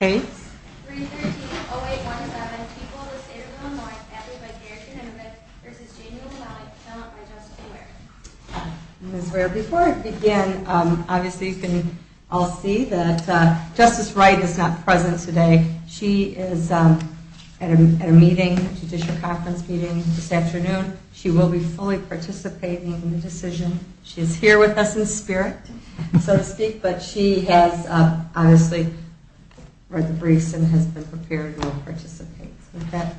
Okay, before I begin, obviously, you can all see that Justice Wright is not present today. She is at a meeting, judicial conference meeting this afternoon. She will be fully participating in the decision. She is here with us in spirit, so to speak, but she has obviously read the briefs and has been prepared and will participate. With that,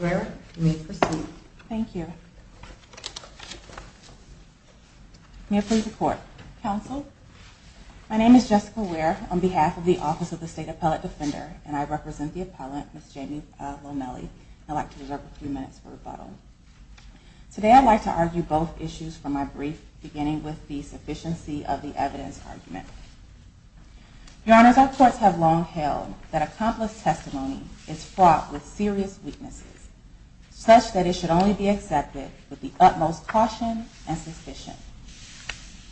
Ms. Ware, you may proceed. Thank you. May I please report? Counsel, my name is Jessica Ware on behalf of the Office of the State Appellate Defender, and I represent the appellant, Ms. Jamie Lomeli. I'd like to reserve a few minutes for rebuttal. Today, I'd like to argue both issues from my brief, beginning with the sufficiency of the evidence argument. Your Honors, our courts have long held that accomplice testimony is fraught with serious weaknesses, such that it should only be accepted with the utmost caution and suspicion.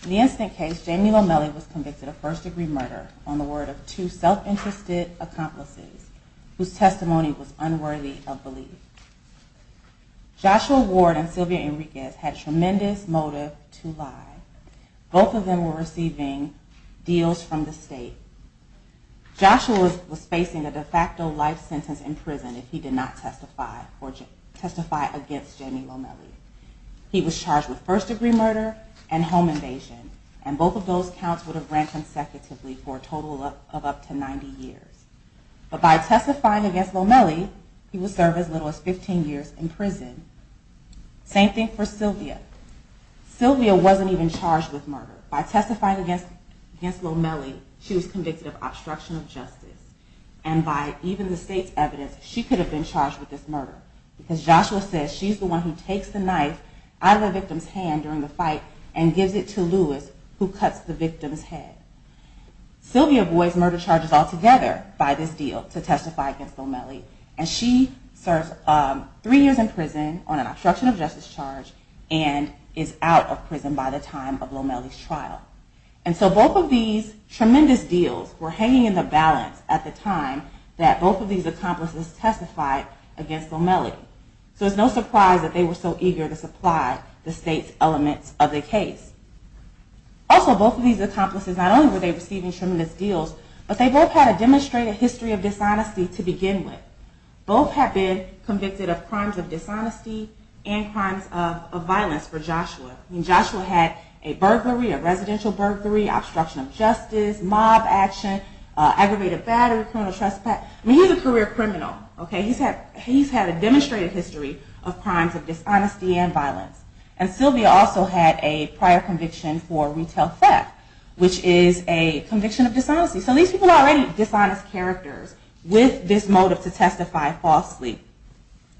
In the incident case, Jamie Lomeli was convicted of first-degree murder on the word of two self-interested accomplices whose testimony was unworthy of belief. Joshua Ward and Sylvia Enriquez had tremendous motive to lie. Both of them were receiving deals from the state. Joshua was facing a de facto life sentence in prison if he did not testify against Jamie Lomeli. He was charged with first-degree murder and home invasion, and both of those counts would have ran consecutively for a total of up to 90 years. But by testifying against Lomeli, he would serve as little as 15 years in prison. Same thing for Sylvia. Sylvia wasn't even charged with murder. By testifying against Lomeli, she was convicted of obstruction of justice. And by even the state's evidence, she could have been charged with this murder. Because Joshua says she's the one who takes the knife out of the victim's hand during the fight and gives it to Louis, who cuts the victim's head. Sylvia avoids murder charges altogether by this deal to testify against Lomeli. And she serves three years in prison on an obstruction of justice charge and is out of prison by the time of Lomeli's trial. And so both of these tremendous deals were hanging in the balance at the time that both of these accomplices testified against Lomeli. So it's no surprise that they were so eager to supply the state's elements of the case. Also, both of these accomplices, not only were they receiving tremendous deals, but they both had a demonstrated history of dishonesty to begin with. Both had been convicted of crimes of dishonesty and crimes of violence for Joshua. Joshua had a burglary, a residential burglary, obstruction of justice, mob action, aggravated battery, criminal trespass. I mean, he's a career criminal. He's had a demonstrated history of crimes of dishonesty and violence. And Sylvia also had a prior conviction for retail theft, which is a conviction of dishonesty. So these people are already dishonest characters with this motive to testify falsely.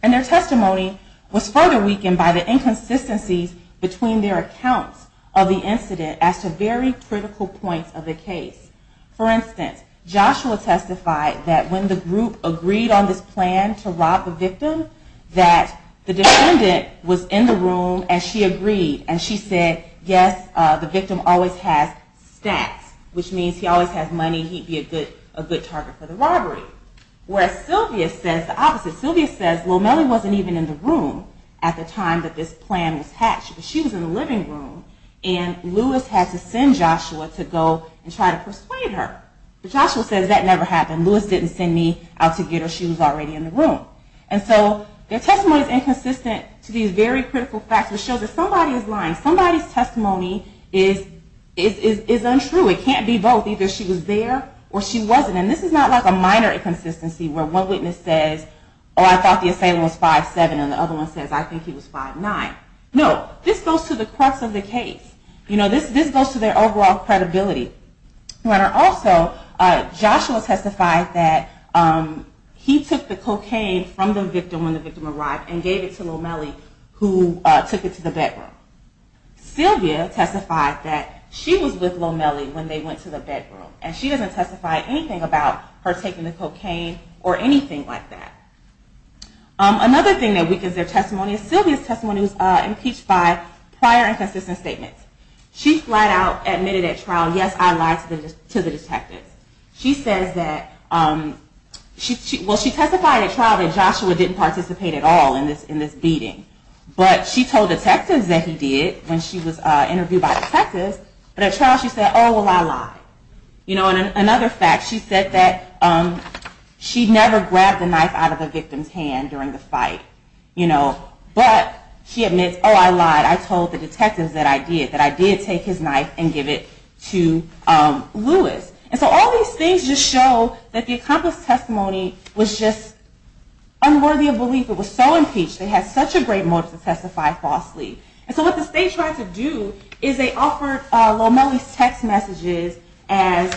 And their testimony was further weakened by the inconsistencies between their accounts of the incident as to very critical points of the case. For instance, Joshua testified that when the group agreed on this plan to rob the victim, that the defendant was in the room and she agreed. And she said, yes, the victim always has stacks, which means he always has money. He'd be a good target for the robbery. Whereas Sylvia says the opposite. Sylvia says Lomeli wasn't even in the room at the time that this plan was hatched. She was in the living room. And Louis had to send Joshua to go and try to persuade her. But Joshua says that never happened. Louis didn't send me out to get her. She was already in the room. And so their testimony is inconsistent to these very critical facts, which shows that somebody is lying. Somebody's testimony is untrue. It can't be both. Either she was there or she wasn't. And this is not like a minor inconsistency where one witness says, oh, I thought the assailant was 5'7", and the other one says I think he was 5'9". No, this goes to the crux of the case. You know, this goes to their overall credibility. Also, Joshua testified that he took the cocaine from the victim when the victim arrived and gave it to Lomeli, who took it to the bedroom. Sylvia testified that she was with Lomeli when they went to the bedroom. And she doesn't testify anything about her taking the cocaine or anything like that. Another thing that weakens their testimony is Sylvia's testimony was impeached by prior inconsistent statements. She flat out admitted at trial, yes, I lied to the detectives. She says that, well, she testified at trial that Joshua didn't participate at all in this beating. But she told detectives that he did when she was interviewed by detectives. But at trial she said, oh, well, I lied. And another fact, she said that she never grabbed the knife out of the victim's hand during the fight. But she admits, oh, I lied. I told the detectives that I did. That I did take his knife and give it to Louis. And so all these things just show that the accomplice testimony was just unworthy of belief. It was so impeached. They had such a great motive to testify falsely. And so what the state tried to do is they offered Lomeli's text messages as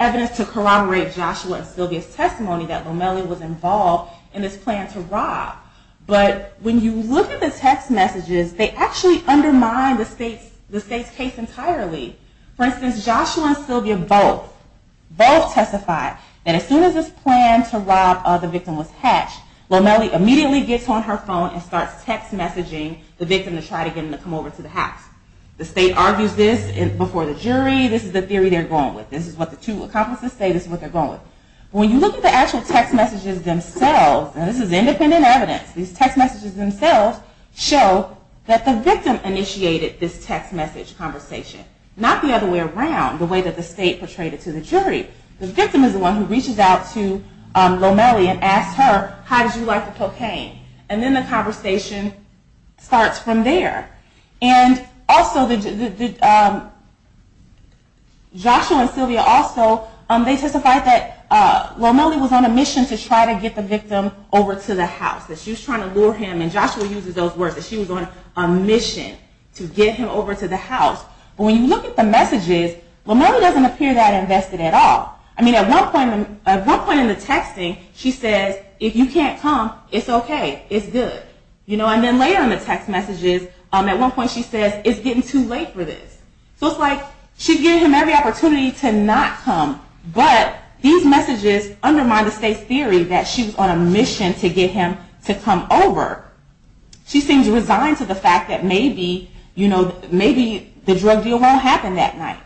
evidence to corroborate Joshua and Sylvia's testimony that Lomeli was involved in this plan to rob. But when you look at the text messages, they actually undermine the state's case entirely. For instance, Joshua and Sylvia both testified that as soon as this plan to rob the victim was hatched, Lomeli immediately gets on her phone and starts text messaging the victim to try to get him to come over to the house. The state argues this before the jury. This is the theory they're going with. This is what the two accomplices say. This is what they're going with. When you look at the actual text messages themselves, and this is independent evidence, these text messages themselves show that the victim initiated this text message conversation. Not the other way around, the way that the state portrayed it to the jury. The victim is the one who reaches out to Lomeli and asks her, how did you like the cocaine? And then the conversation starts from there. And also Joshua and Sylvia also, they testified that Lomeli was on a mission to try to get the victim over to the house. That she was trying to lure him, and Joshua uses those words, that she was on a mission to get him over to the house. But when you look at the messages, Lomeli doesn't appear that invested at all. I mean, at one point in the texting, she says, if you can't come, it's okay, it's good. And then later in the text messages, at one point she says, it's getting too late for this. So it's like, she's giving him every opportunity to not come, but these messages undermine the state's theory that she was on a mission to get him to come over. She seems resigned to the fact that maybe, you know, maybe the drug deal won't happen that night.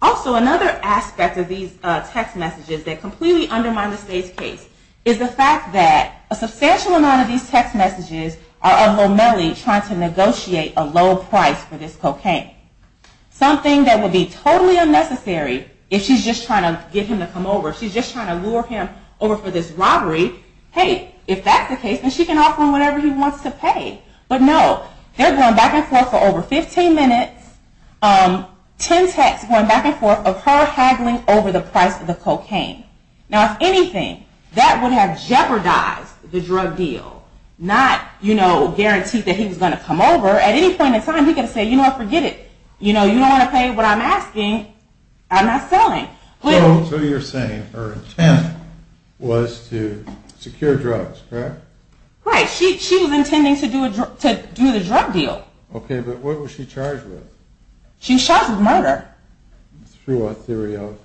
Also, another aspect of these text messages that completely undermine the state's case is the fact that a substantial amount of these text messages are of Lomeli trying to negotiate a low price for this cocaine. Something that would be totally unnecessary if she's just trying to get him to come over. She's just trying to lure him over for this robbery. Hey, if that's the case, then she can offer him whatever he wants to pay. But no, they're going back and forth for over 15 minutes, 10 texts going back and forth of her haggling over the price of the cocaine. Now, if anything, that would have jeopardized the drug deal. Not, you know, guaranteed that he was going to come over. At any point in time, he could have said, you know what, forget it. You know, you don't want to pay what I'm asking, I'm not selling. So you're saying her intent was to secure drugs, correct? Right. She was intending to do the drug deal. Okay, but what was she charged with? She was charged with murder. Through a theory of?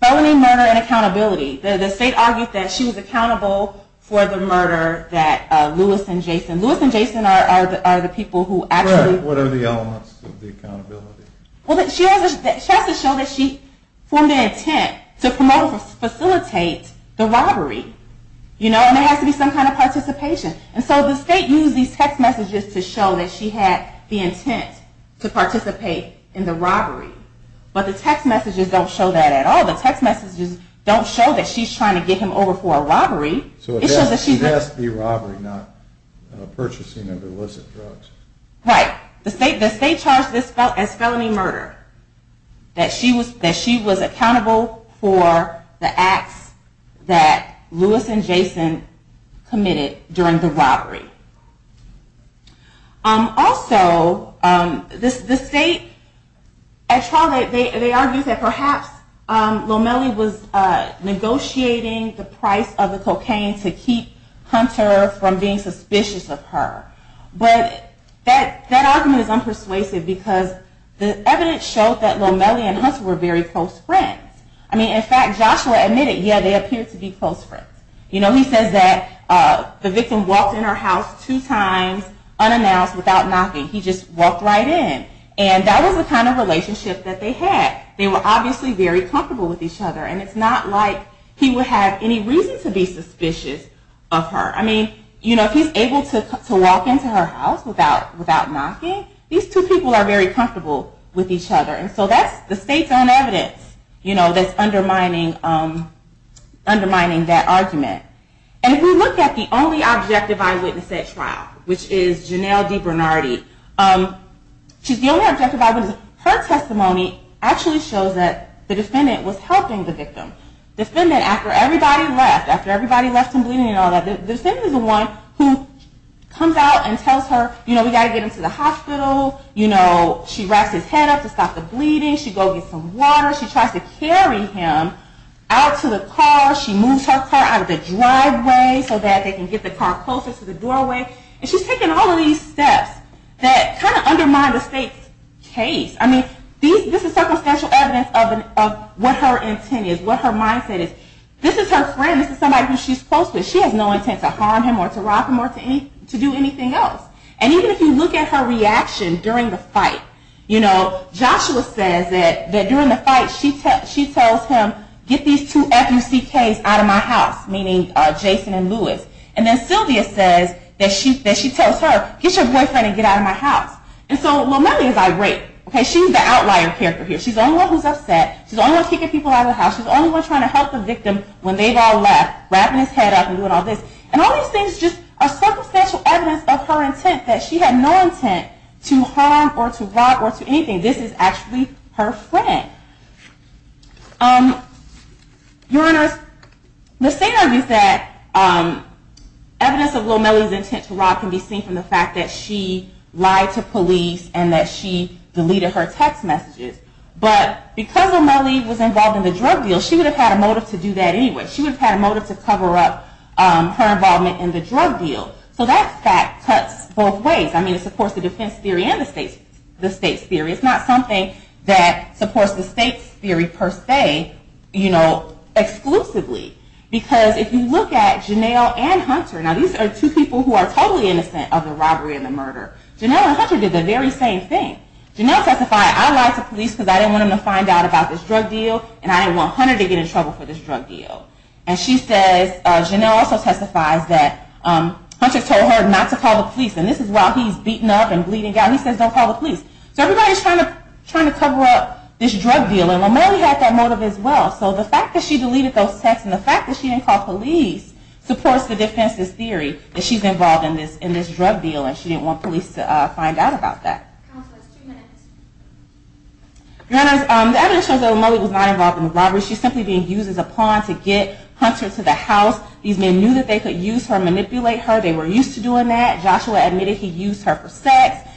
Felony murder and accountability. The state argued that she was accountable for the murder that Lewis and Jason. Lewis and Jason are the people who actually. Correct. What are the elements of the accountability? Well, she has to show that she formed an intent to promote or facilitate the robbery. You know, and there has to be some kind of participation. And so the state used these text messages to show that she had the intent to participate in the robbery. But the text messages don't show that at all. The text messages don't show that she's trying to get him over for a robbery. So it has to be robbery, not purchasing of illicit drugs. Right. Right. The state charged this as felony murder. That she was accountable for the acts that Lewis and Jason committed during the robbery. Also, the state at trial, they argued that perhaps Lomeli was negotiating the price of the cocaine to keep Hunter from being suspicious of her. But that argument is unpersuasive because the evidence showed that Lomeli and Hunter were very close friends. I mean, in fact, Joshua admitted, yeah, they appeared to be close friends. You know, he says that the victim walked in her house two times unannounced without knocking. He just walked right in. And that was the kind of relationship that they had. They were obviously very comfortable with each other. And it's not like he would have any reason to be suspicious of her. I mean, you know, if he's able to walk into her house without knocking, these two people are very comfortable with each other. And so that's the state's own evidence, you know, that's undermining that argument. And if we look at the only objective eyewitness at trial, which is Janelle D. Bernardi. She's the only objective eyewitness. Her testimony actually shows that the defendant was helping the victim. The defendant, after everybody left, after everybody left him bleeding and all that, the defendant is the one who comes out and tells her, you know, we've got to get him to the hospital. You know, she wraps his head up to stop the bleeding. She goes and gets some water. She tries to carry him out to the car. She moves her car out of the driveway so that they can get the car closer to the doorway. And she's taking all of these steps that kind of undermine the state's case. I mean, this is circumstantial evidence of what her intent is, what her mindset is. This is her friend. This is somebody who she's close with. She has no intent to harm him or to rob him or to do anything else. And even if you look at her reaction during the fight, you know, Joshua says that during the fight she tells him, get these two F-U-C-Ks out of my house, meaning Jason and Louis. And then Sylvia says that she tells her, get your boyfriend and get out of my house. And so Lomeli is irate. She's the outlier character here. She's the only one who's upset. She's the only one kicking people out of the house. She's the only one trying to help the victim when they've all left, wrapping his head up and doing all this. And all these things are just circumstantial evidence of her intent, that she had no intent to harm or to rob or to anything. This is actually her friend. Your Honors, the state argues that evidence of Lomeli's intent to rob can be seen from the fact that she lied to police and that she deleted her text messages. But because Lomeli was involved in the drug deal, she would have had a motive to do that anyway. She would have had a motive to cover up her involvement in the drug deal. So that fact cuts both ways. I mean, it supports the defense theory and the state's theory. It's not something that supports the state's theory per se, you know, exclusively. Because if you look at Janelle and Hunter, now these are two people who are totally innocent of the robbery and the murder. Janelle and Hunter did the very same thing. Janelle testified, I lied to police because I didn't want them to find out about this drug deal, and I didn't want Hunter to get in trouble for this drug deal. And she says, Janelle also testifies that Hunter told her not to call the police. And this is while he's beaten up and bleeding out. He says, don't call the police. So everybody's trying to cover up this drug deal. And Lomeli had that motive as well. So the fact that she deleted those texts and the fact that she didn't call police supports the defense's theory that she's involved in this drug deal and she didn't want police to find out about that. Your Honor, the evidence shows that Lomeli was not involved in the robbery. She's simply being used as a pawn to get Hunter to the house. These men knew that they could use her, manipulate her. They were used to doing that. Joshua admitted he used her for sex.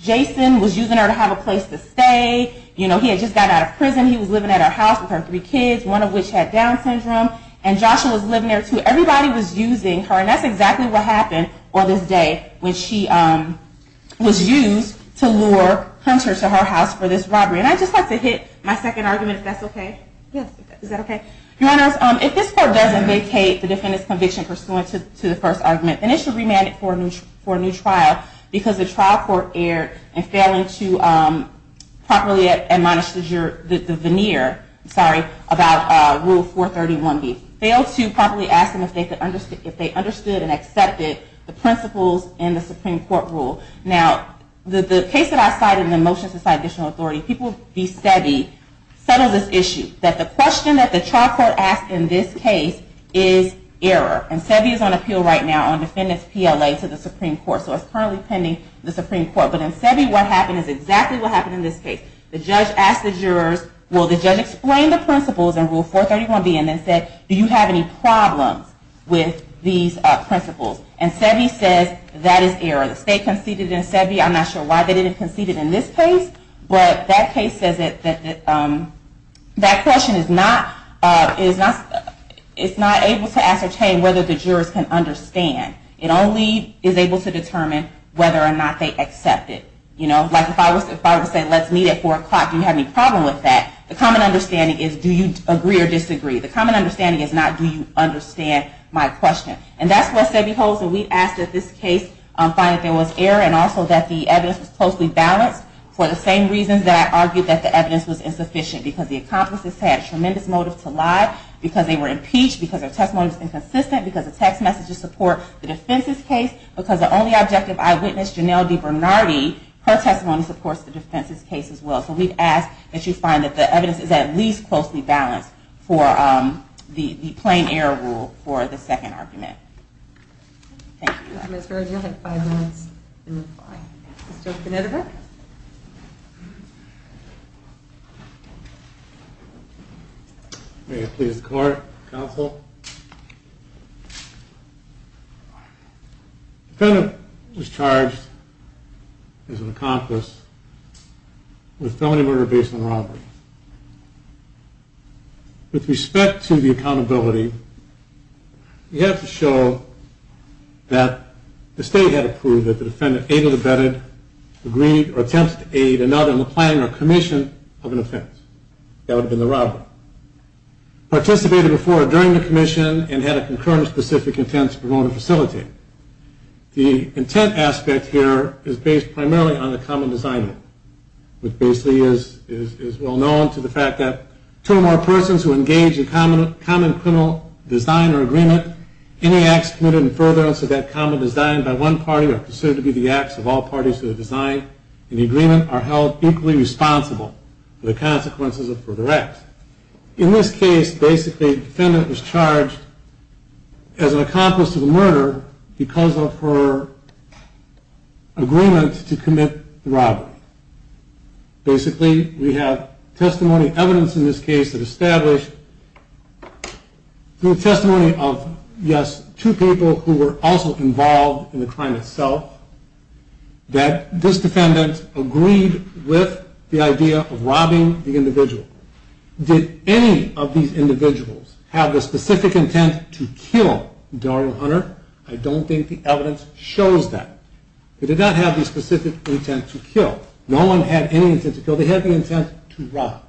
Jason was using her to have a place to stay. He had just got out of prison. He was living at her house with her three kids, one of which had Down syndrome. And Joshua was living there too. Everybody was using her. And that's exactly what happened on this day when she was used to lure Hunter to her house for this robbery. And I'd just like to hit my second argument, if that's OK. Is that OK? Your Honor, if this court doesn't vacate the defendant's conviction pursuant to the first argument, then it should remand it for a new trial because the trial court erred in failing to properly admonish the veneer, sorry, about Rule 431B. Failed to properly ask them if they understood and accepted the principles in the Supreme Court rule. Now, the case that I cited in the motion to cite additional authority, people v. Sebi settled this issue, that the question that the trial court asked in this case is error. And Sebi is on appeal right now on defendant's PLA to the Supreme Court. So it's currently pending the Supreme Court. But in Sebi, what happened is exactly what happened in this case. The judge asked the jurors, will the judge explain the principles in Rule 431B and then said, do you have any problems with these principles? And Sebi says that is error. The state conceded in Sebi. I'm not sure why they didn't concede it in this case. But that case says that that question is not able to ascertain whether the jurors can understand. It only is able to determine whether or not they accept it. You know, like if I were to say, let's meet at 4 o'clock, do you have any problem with that? The common understanding is, do you agree or disagree? The common understanding is not, do you understand my question? And that's what Sebi holds. So we've asked that this case find that there was error and also that the evidence was closely balanced for the same reasons that I argued that the evidence was insufficient. Because the accomplices had a tremendous motive to lie. Because they were impeached. Because their testimony was inconsistent. Because the text messages support the defense's case. Because the only objective eyewitness, Janelle DiBernardi, her testimony supports the defense's case as well. So we've asked that you find that the evidence is at least closely balanced for the plain error rule for the second argument. Thank you. Ms. Berger, you have five minutes in reply. Mr. Knitterberg? May it please the court, counsel. The defendant was charged as an accomplice with felony murder based on robbery. With respect to the accountability, you have to show that the state had approved that the defendant aided or abetted, agreed or attempted to aid another in the planning or commission of an offense. That would have been the robbery. Participated before or during the commission and had a concurrent specific intent to promote or facilitate. The intent aspect here is based primarily on the common design. Which basically is well known to the fact that two or more persons who engage in common criminal design or agreement, any acts committed in furtherance of that common design by one party are considered to be the acts of all parties to the design and the agreement are held equally responsible for the consequences of further acts. In this case, basically, the defendant was charged as an accomplice to the murder because of her agreement to commit the robbery. Basically, we have testimony evidence in this case that established through testimony of, yes, two people who were also involved in the crime itself, that this defendant agreed with the idea of robbing the individual. Did any of these individuals have the specific intent to kill Darlene Hunter? I don't think the evidence shows that. They did not have the specific intent to kill. No one had any intent to kill. They had the intent to rob.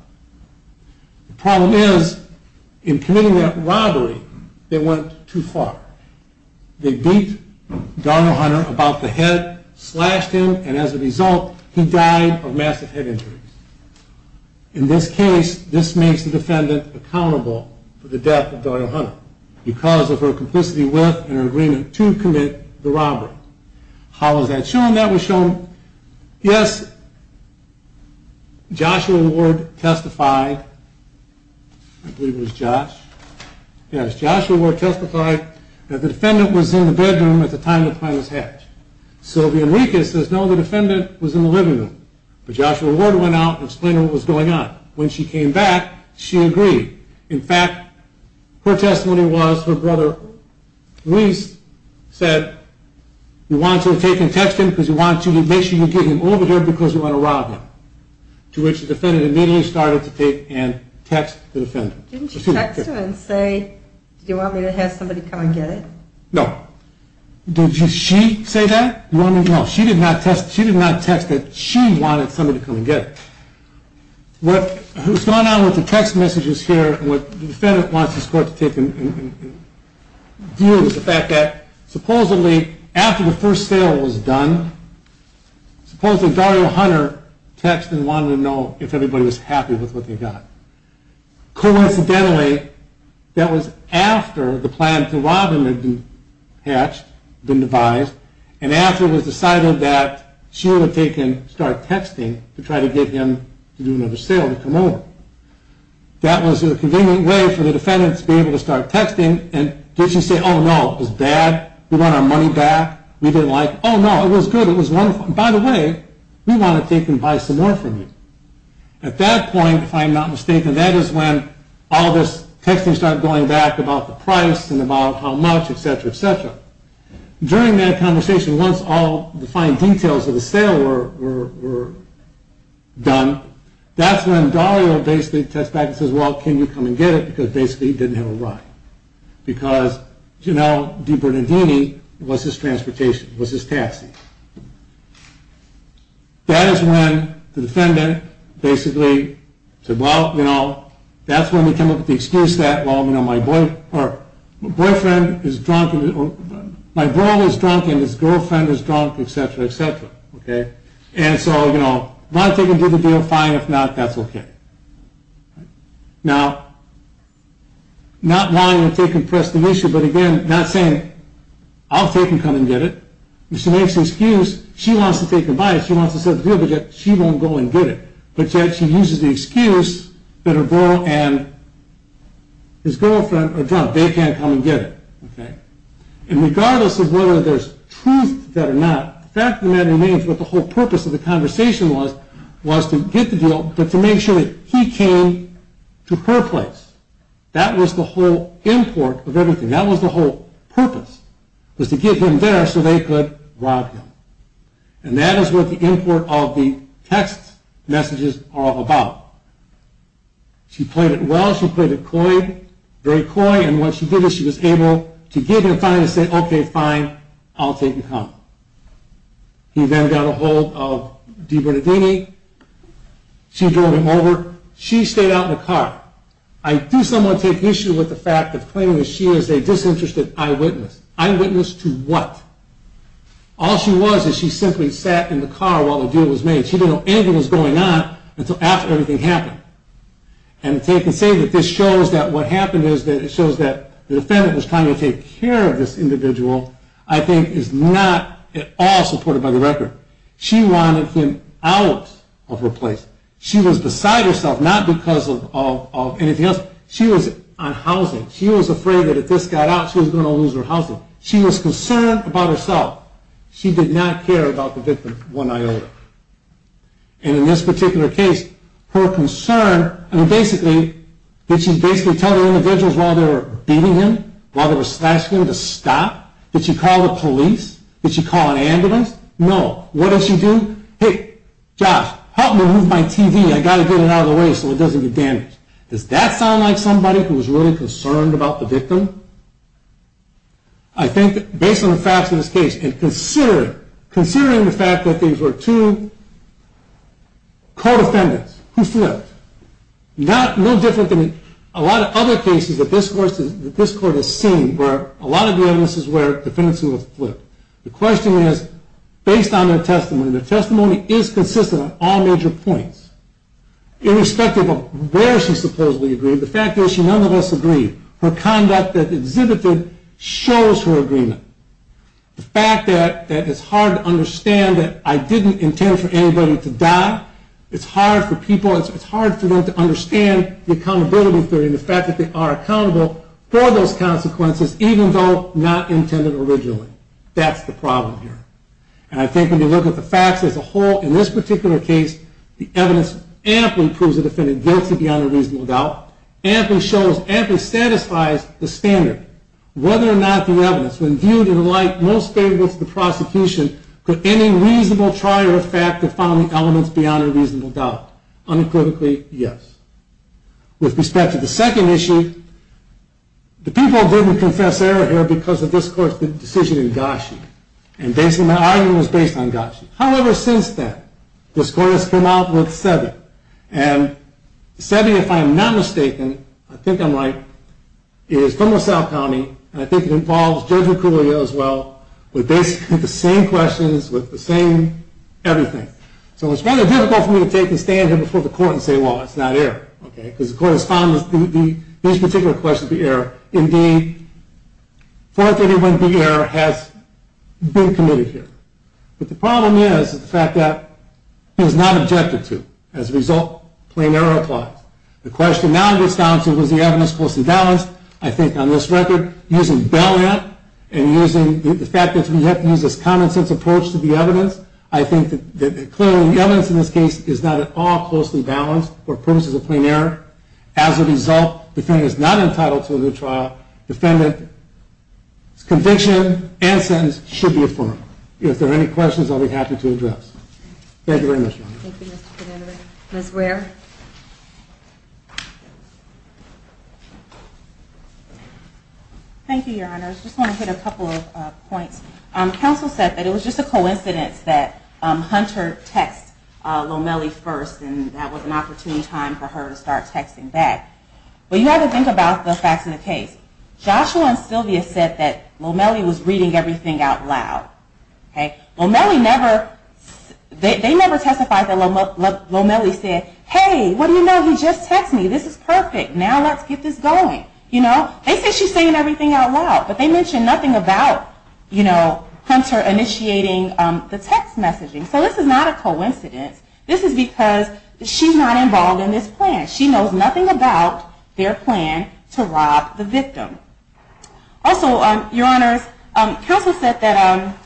The problem is, in committing that robbery, they went too far. They beat Darlene Hunter about the head, slashed him, and as a result, he died of massive head injuries. In this case, this makes the defendant accountable for the death of Darlene Hunter because of her complicity with and her agreement to commit the robbery. How is that shown? Yes, Joshua Ward testified that the defendant was in the bedroom at the time the crime was hatched. Sylvia Enriquez says, no, the defendant was in the living room. Joshua Ward went out and explained what was going on. When she came back, she agreed. In fact, her testimony was her brother, Luis, said, you want to take and text him because you want to make sure you get him over here because you want to rob him. To which the defendant immediately started to take and text the defendant. Didn't she text him and say, do you want me to have somebody come and get him? No. Did she say that? No, she did not text that she wanted somebody to come and get him. What's going on with the text messages here and what the defendant wants this court to take in view is the fact that supposedly after the first sale was done, supposedly Darlene Hunter texted and wanted to know if everybody was happy with what they got. Coincidentally, that was after the plan to rob him had been hatched, been devised, and after it was decided that she would take and start texting to try to get him to do another sale, to come over. That was a convenient way for the defendants to be able to start texting. And did she say, oh no, it was bad, we want our money back, we didn't like, oh no, it was good, it was wonderful. By the way, we want to take and buy some more from you. At that point, if I'm not mistaken, that is when all this texting started going back about the price and about how much, et cetera, et cetera. During that conversation, once all the fine details of the sale were done, that's when Dahlia basically texts back and says, well, can you come and get it, because basically he didn't have a ride. Because, you know, DiBernardini was his transportation, was his taxi. That is when the defendant basically said, well, you know, that's when we came up with the excuse that, well, you know, my boyfriend is drunk, my girl is drunk and his girlfriend is drunk, et cetera, et cetera. And so, you know, want to take and do the deal, fine, if not, that's okay. Now, not wanting to take and press the issue, but again, not saying, I'll take and come and get it. If she makes an excuse, she wants to take and buy it, she wants to set the deal, but yet she won't go and get it. But yet she uses the excuse that her girl and his girlfriend are drunk. They can't come and get it. And regardless of whether there's truth to that or not, the fact of the matter remains what the whole purpose of the conversation was, was to get the deal, but to make sure that he came to her place. That was the whole import of everything. That was the whole purpose, was to get him there so they could rob him. And that is what the import of the text messages are all about. She played it well, she played it coy, very coy, and what she did is she was able to give him time to say, okay, fine, I'll take and come. He then got a hold of Dee Bernadini. She drove him over. She stayed out in the car. I do somewhat take issue with the fact of claiming that she is a disinterested eyewitness. Eyewitness to what? All she was is she simply sat in the car while the deal was made. She didn't know anything was going on until after everything happened. And to say that this shows that what happened is that it shows that the defendant was trying to take care of this individual, I think is not at all supported by the record. She wanted him out of her place. She was beside herself, not because of anything else. She was on housing. She was afraid that if this got out, she was going to lose her housing. She was concerned about herself. She did not care about the victim one iota. And in this particular case, her concern, I mean, basically, did she basically tell the individuals while they were beating him, while they were slashing him to stop? Did she call the police? Did she call an ambulance? No. What did she do? Hey, Josh, help me move my TV. I've got to get it out of the way so it doesn't get damaged. Does that sound like somebody who was really concerned about the victim? I think, based on the facts of this case, and considering the fact that these were two co-defendants who flipped, no different than a lot of other cases that this court has seen where a lot of the evidence is where defendants who have flipped. The question is, based on their testimony, and their testimony is consistent on all major points, irrespective of where she supposedly agreed, the fact is she none of us agreed. Her conduct that exhibited shows her agreement. The fact that it's hard to understand that I didn't intend for anybody to die, it's hard for people, it's hard for them to understand the accountability theory and the fact that they are accountable for those consequences, even though not intended originally. That's the problem here. And I think when you look at the facts as a whole, in this particular case, the evidence amply proves the defendant guilty beyond a reasonable doubt. Amply shows, amply satisfies the standard. Whether or not the evidence, when viewed in light most favorable to the prosecution, could any reasonable trier of fact define the elements beyond a reasonable doubt? Unequivocally, yes. With respect to the second issue, the people didn't confess error here because of this court's decision in Gashi. And basically my argument was based on Gashi. However, since then, this court has come out with Seve. And Seve, if I am not mistaken, I think I'm right, is from LaSalle County, and I think it involves Judge Mercurio as well, with basically the same questions, with the same everything. So it's rather difficult for me to take a stand here before the court and say, well, it's not error. Because the court has found these particular questions to be error. Indeed, 431B error has been committed here. But the problem is the fact that it was not objected to. As a result, plain error applies. The question now in Wisconsin, was the evidence closely balanced? I think on this record, using Bell Ant and using the fact that we have to use this common sense approach to the evidence, I think that clearly the evidence in this case is not at all closely balanced for purposes of plain error. As a result, the defendant is not entitled to a good trial. Defendant's conviction and sentence should be affirmed. If there are any questions, I'll be happy to address. Thank you very much, Your Honor. Thank you, Mr. Connery. Ms. Ware. Thank you, Your Honor. I just want to hit a couple of points. Counsel said that it was just a coincidence that Hunter text Lomeli first, and that was an opportune time for her to start texting back. But you have to think about the facts in the case. Joshua and Sylvia said that Lomeli was reading everything out loud. Okay? Lomeli never, they never testified that Lomeli said, hey, what do you know? He just texted me. This is perfect. Now let's get this going. You know? They said she's saying everything out loud, but they mention nothing about, you know, Hunter initiating the text messaging. So this is not a coincidence. This is because she's not involved in this plan. She knows nothing about their plan to rob the victim. Also, Your Honors, counsel said that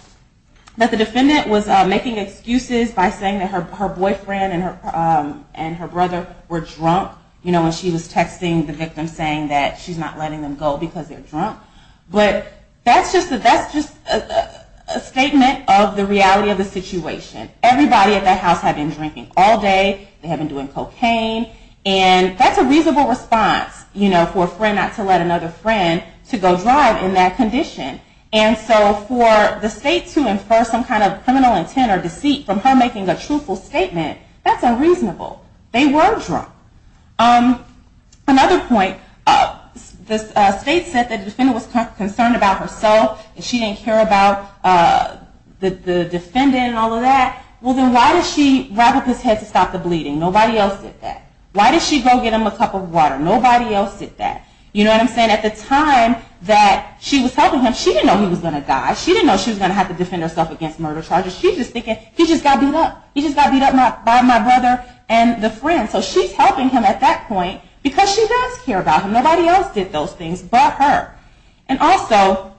the defendant was making excuses by saying that her boyfriend and her brother were drunk, you know, when she was texting the victim saying that she's not letting them go because they're drunk. But that's just a statement of the reality of the situation. Everybody at that house had been drinking all day. They had been doing cocaine, and that's a reasonable response, you know, for a friend not to let another friend to go drive in that condition. And so for the state to infer some kind of criminal intent or deceit from her making a truthful statement, that's unreasonable. They were drunk. Another point, the state said that the defendant was concerned about herself, and she didn't care about the defendant and all of that. Well, then why did she wrap up his head to stop the bleeding? Nobody else did that. Why did she go get him a cup of water? Nobody else did that. You know what I'm saying? At the time that she was helping him, she didn't know he was going to die. She didn't know she was going to have to defend herself against murder charges. She's just thinking, he just got beat up. He just got beat up by my brother and the friend. So she's helping him at that point because she does care about him. Nobody else did those things but her. And also,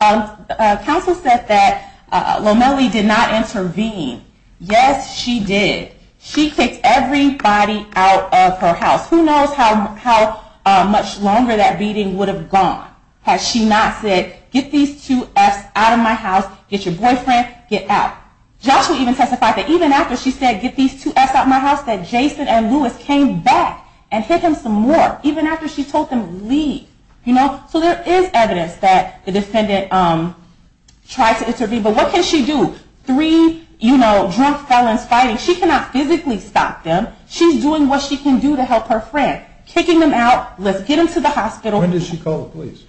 counsel said that Lomeli did not intervene. Yes, she did. She kicked everybody out of her house. Who knows how much longer that beating would have gone had she not said, get these two F's out of my house, get your boyfriend, get out. Joshua even testified that even after she said, get these two F's out of my house, that Jason and Lewis came back and hit him some more, even after she told them to leave. So there is evidence that the defendant tried to intervene. But what can she do? Three drunk felons fighting, she cannot physically stop them. She's doing what she can do to help her friend. Kicking them out, let's get them to the hospital. When did she call the police?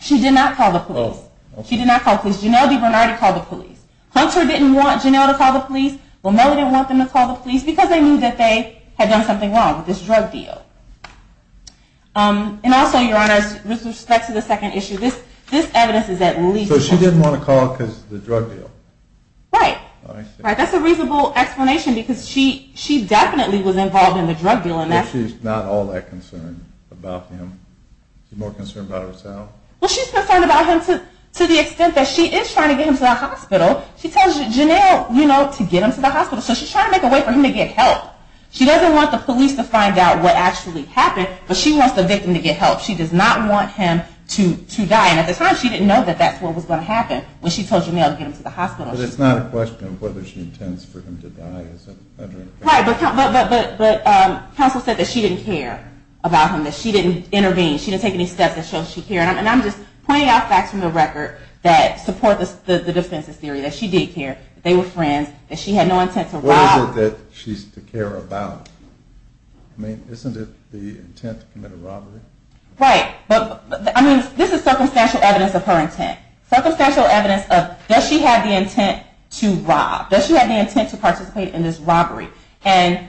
She did not call the police. She did not call the police. Janelle DiBernardi called the police. Hunter didn't want Janelle to call the police. Lomeli didn't want them to call the police because they knew that they had done something wrong with this drug deal. And also, your honors, with respect to the second issue, this evidence is that legal. So she didn't want to call because of the drug deal. Right. That's a reasonable explanation because she definitely was involved in the drug deal. But she's not all that concerned about him. She's more concerned about herself. Well, she's concerned about him to the extent that she is trying to get him to the hospital. She tells Janelle, you know, to get him to the hospital. So she's trying to make a way for him to get help. She doesn't want the police to find out what actually happened, but she wants the victim to get help. She does not want him to die. And at the time, she didn't know that that's what was going to happen when she told Janelle to get him to the hospital. But it's not a question of whether she intends for him to die as a veteran. Right, but counsel said that she didn't care about him, that she didn't intervene. She didn't take any steps that showed she cared. And I'm just pointing out facts from the record that support the defense's theory that she did care, that they were friends, that she had no intent to rob. What is it that she's to care about? I mean, isn't it the intent to commit a robbery? Right. I mean, this is circumstantial evidence of her intent. Circumstantial evidence of, does she have the intent to rob? Does she have the intent to participate in this robbery? Isn't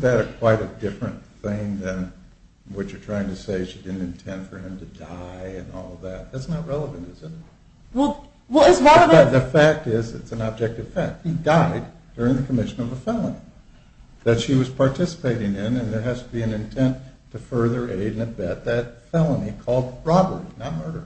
that quite a different thing than what you're trying to say, she didn't intend for him to die and all of that? That's not relevant, is it? Well, it's one of the... The fact is, it's an objective fact. He died during the commission of a felony that she was participating in, and there has to be an intent to further aid and abet that felony called robbery, not murder.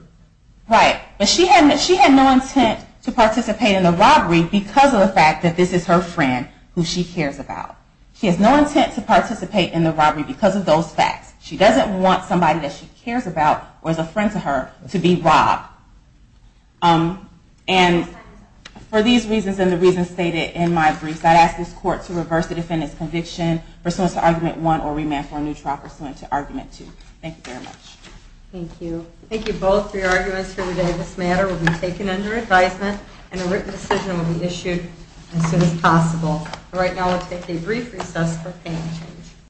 Right. But she had no intent to participate in the robbery because of the fact that this is her friend who she cares about. She has no intent to participate in the robbery because of those facts. She doesn't want somebody that she cares about or is a friend to her to be robbed. And for these reasons and the reasons stated in my briefs, I'd ask this court to reverse the defendant's conviction pursuant to argument one or remand for a new trial pursuant to argument two. Thank you very much. Thank you. Thank you both for your arguments here today. This matter will be taken under advisement and a written decision will be issued as soon as possible. Right now, we'll take a brief recess for payment change.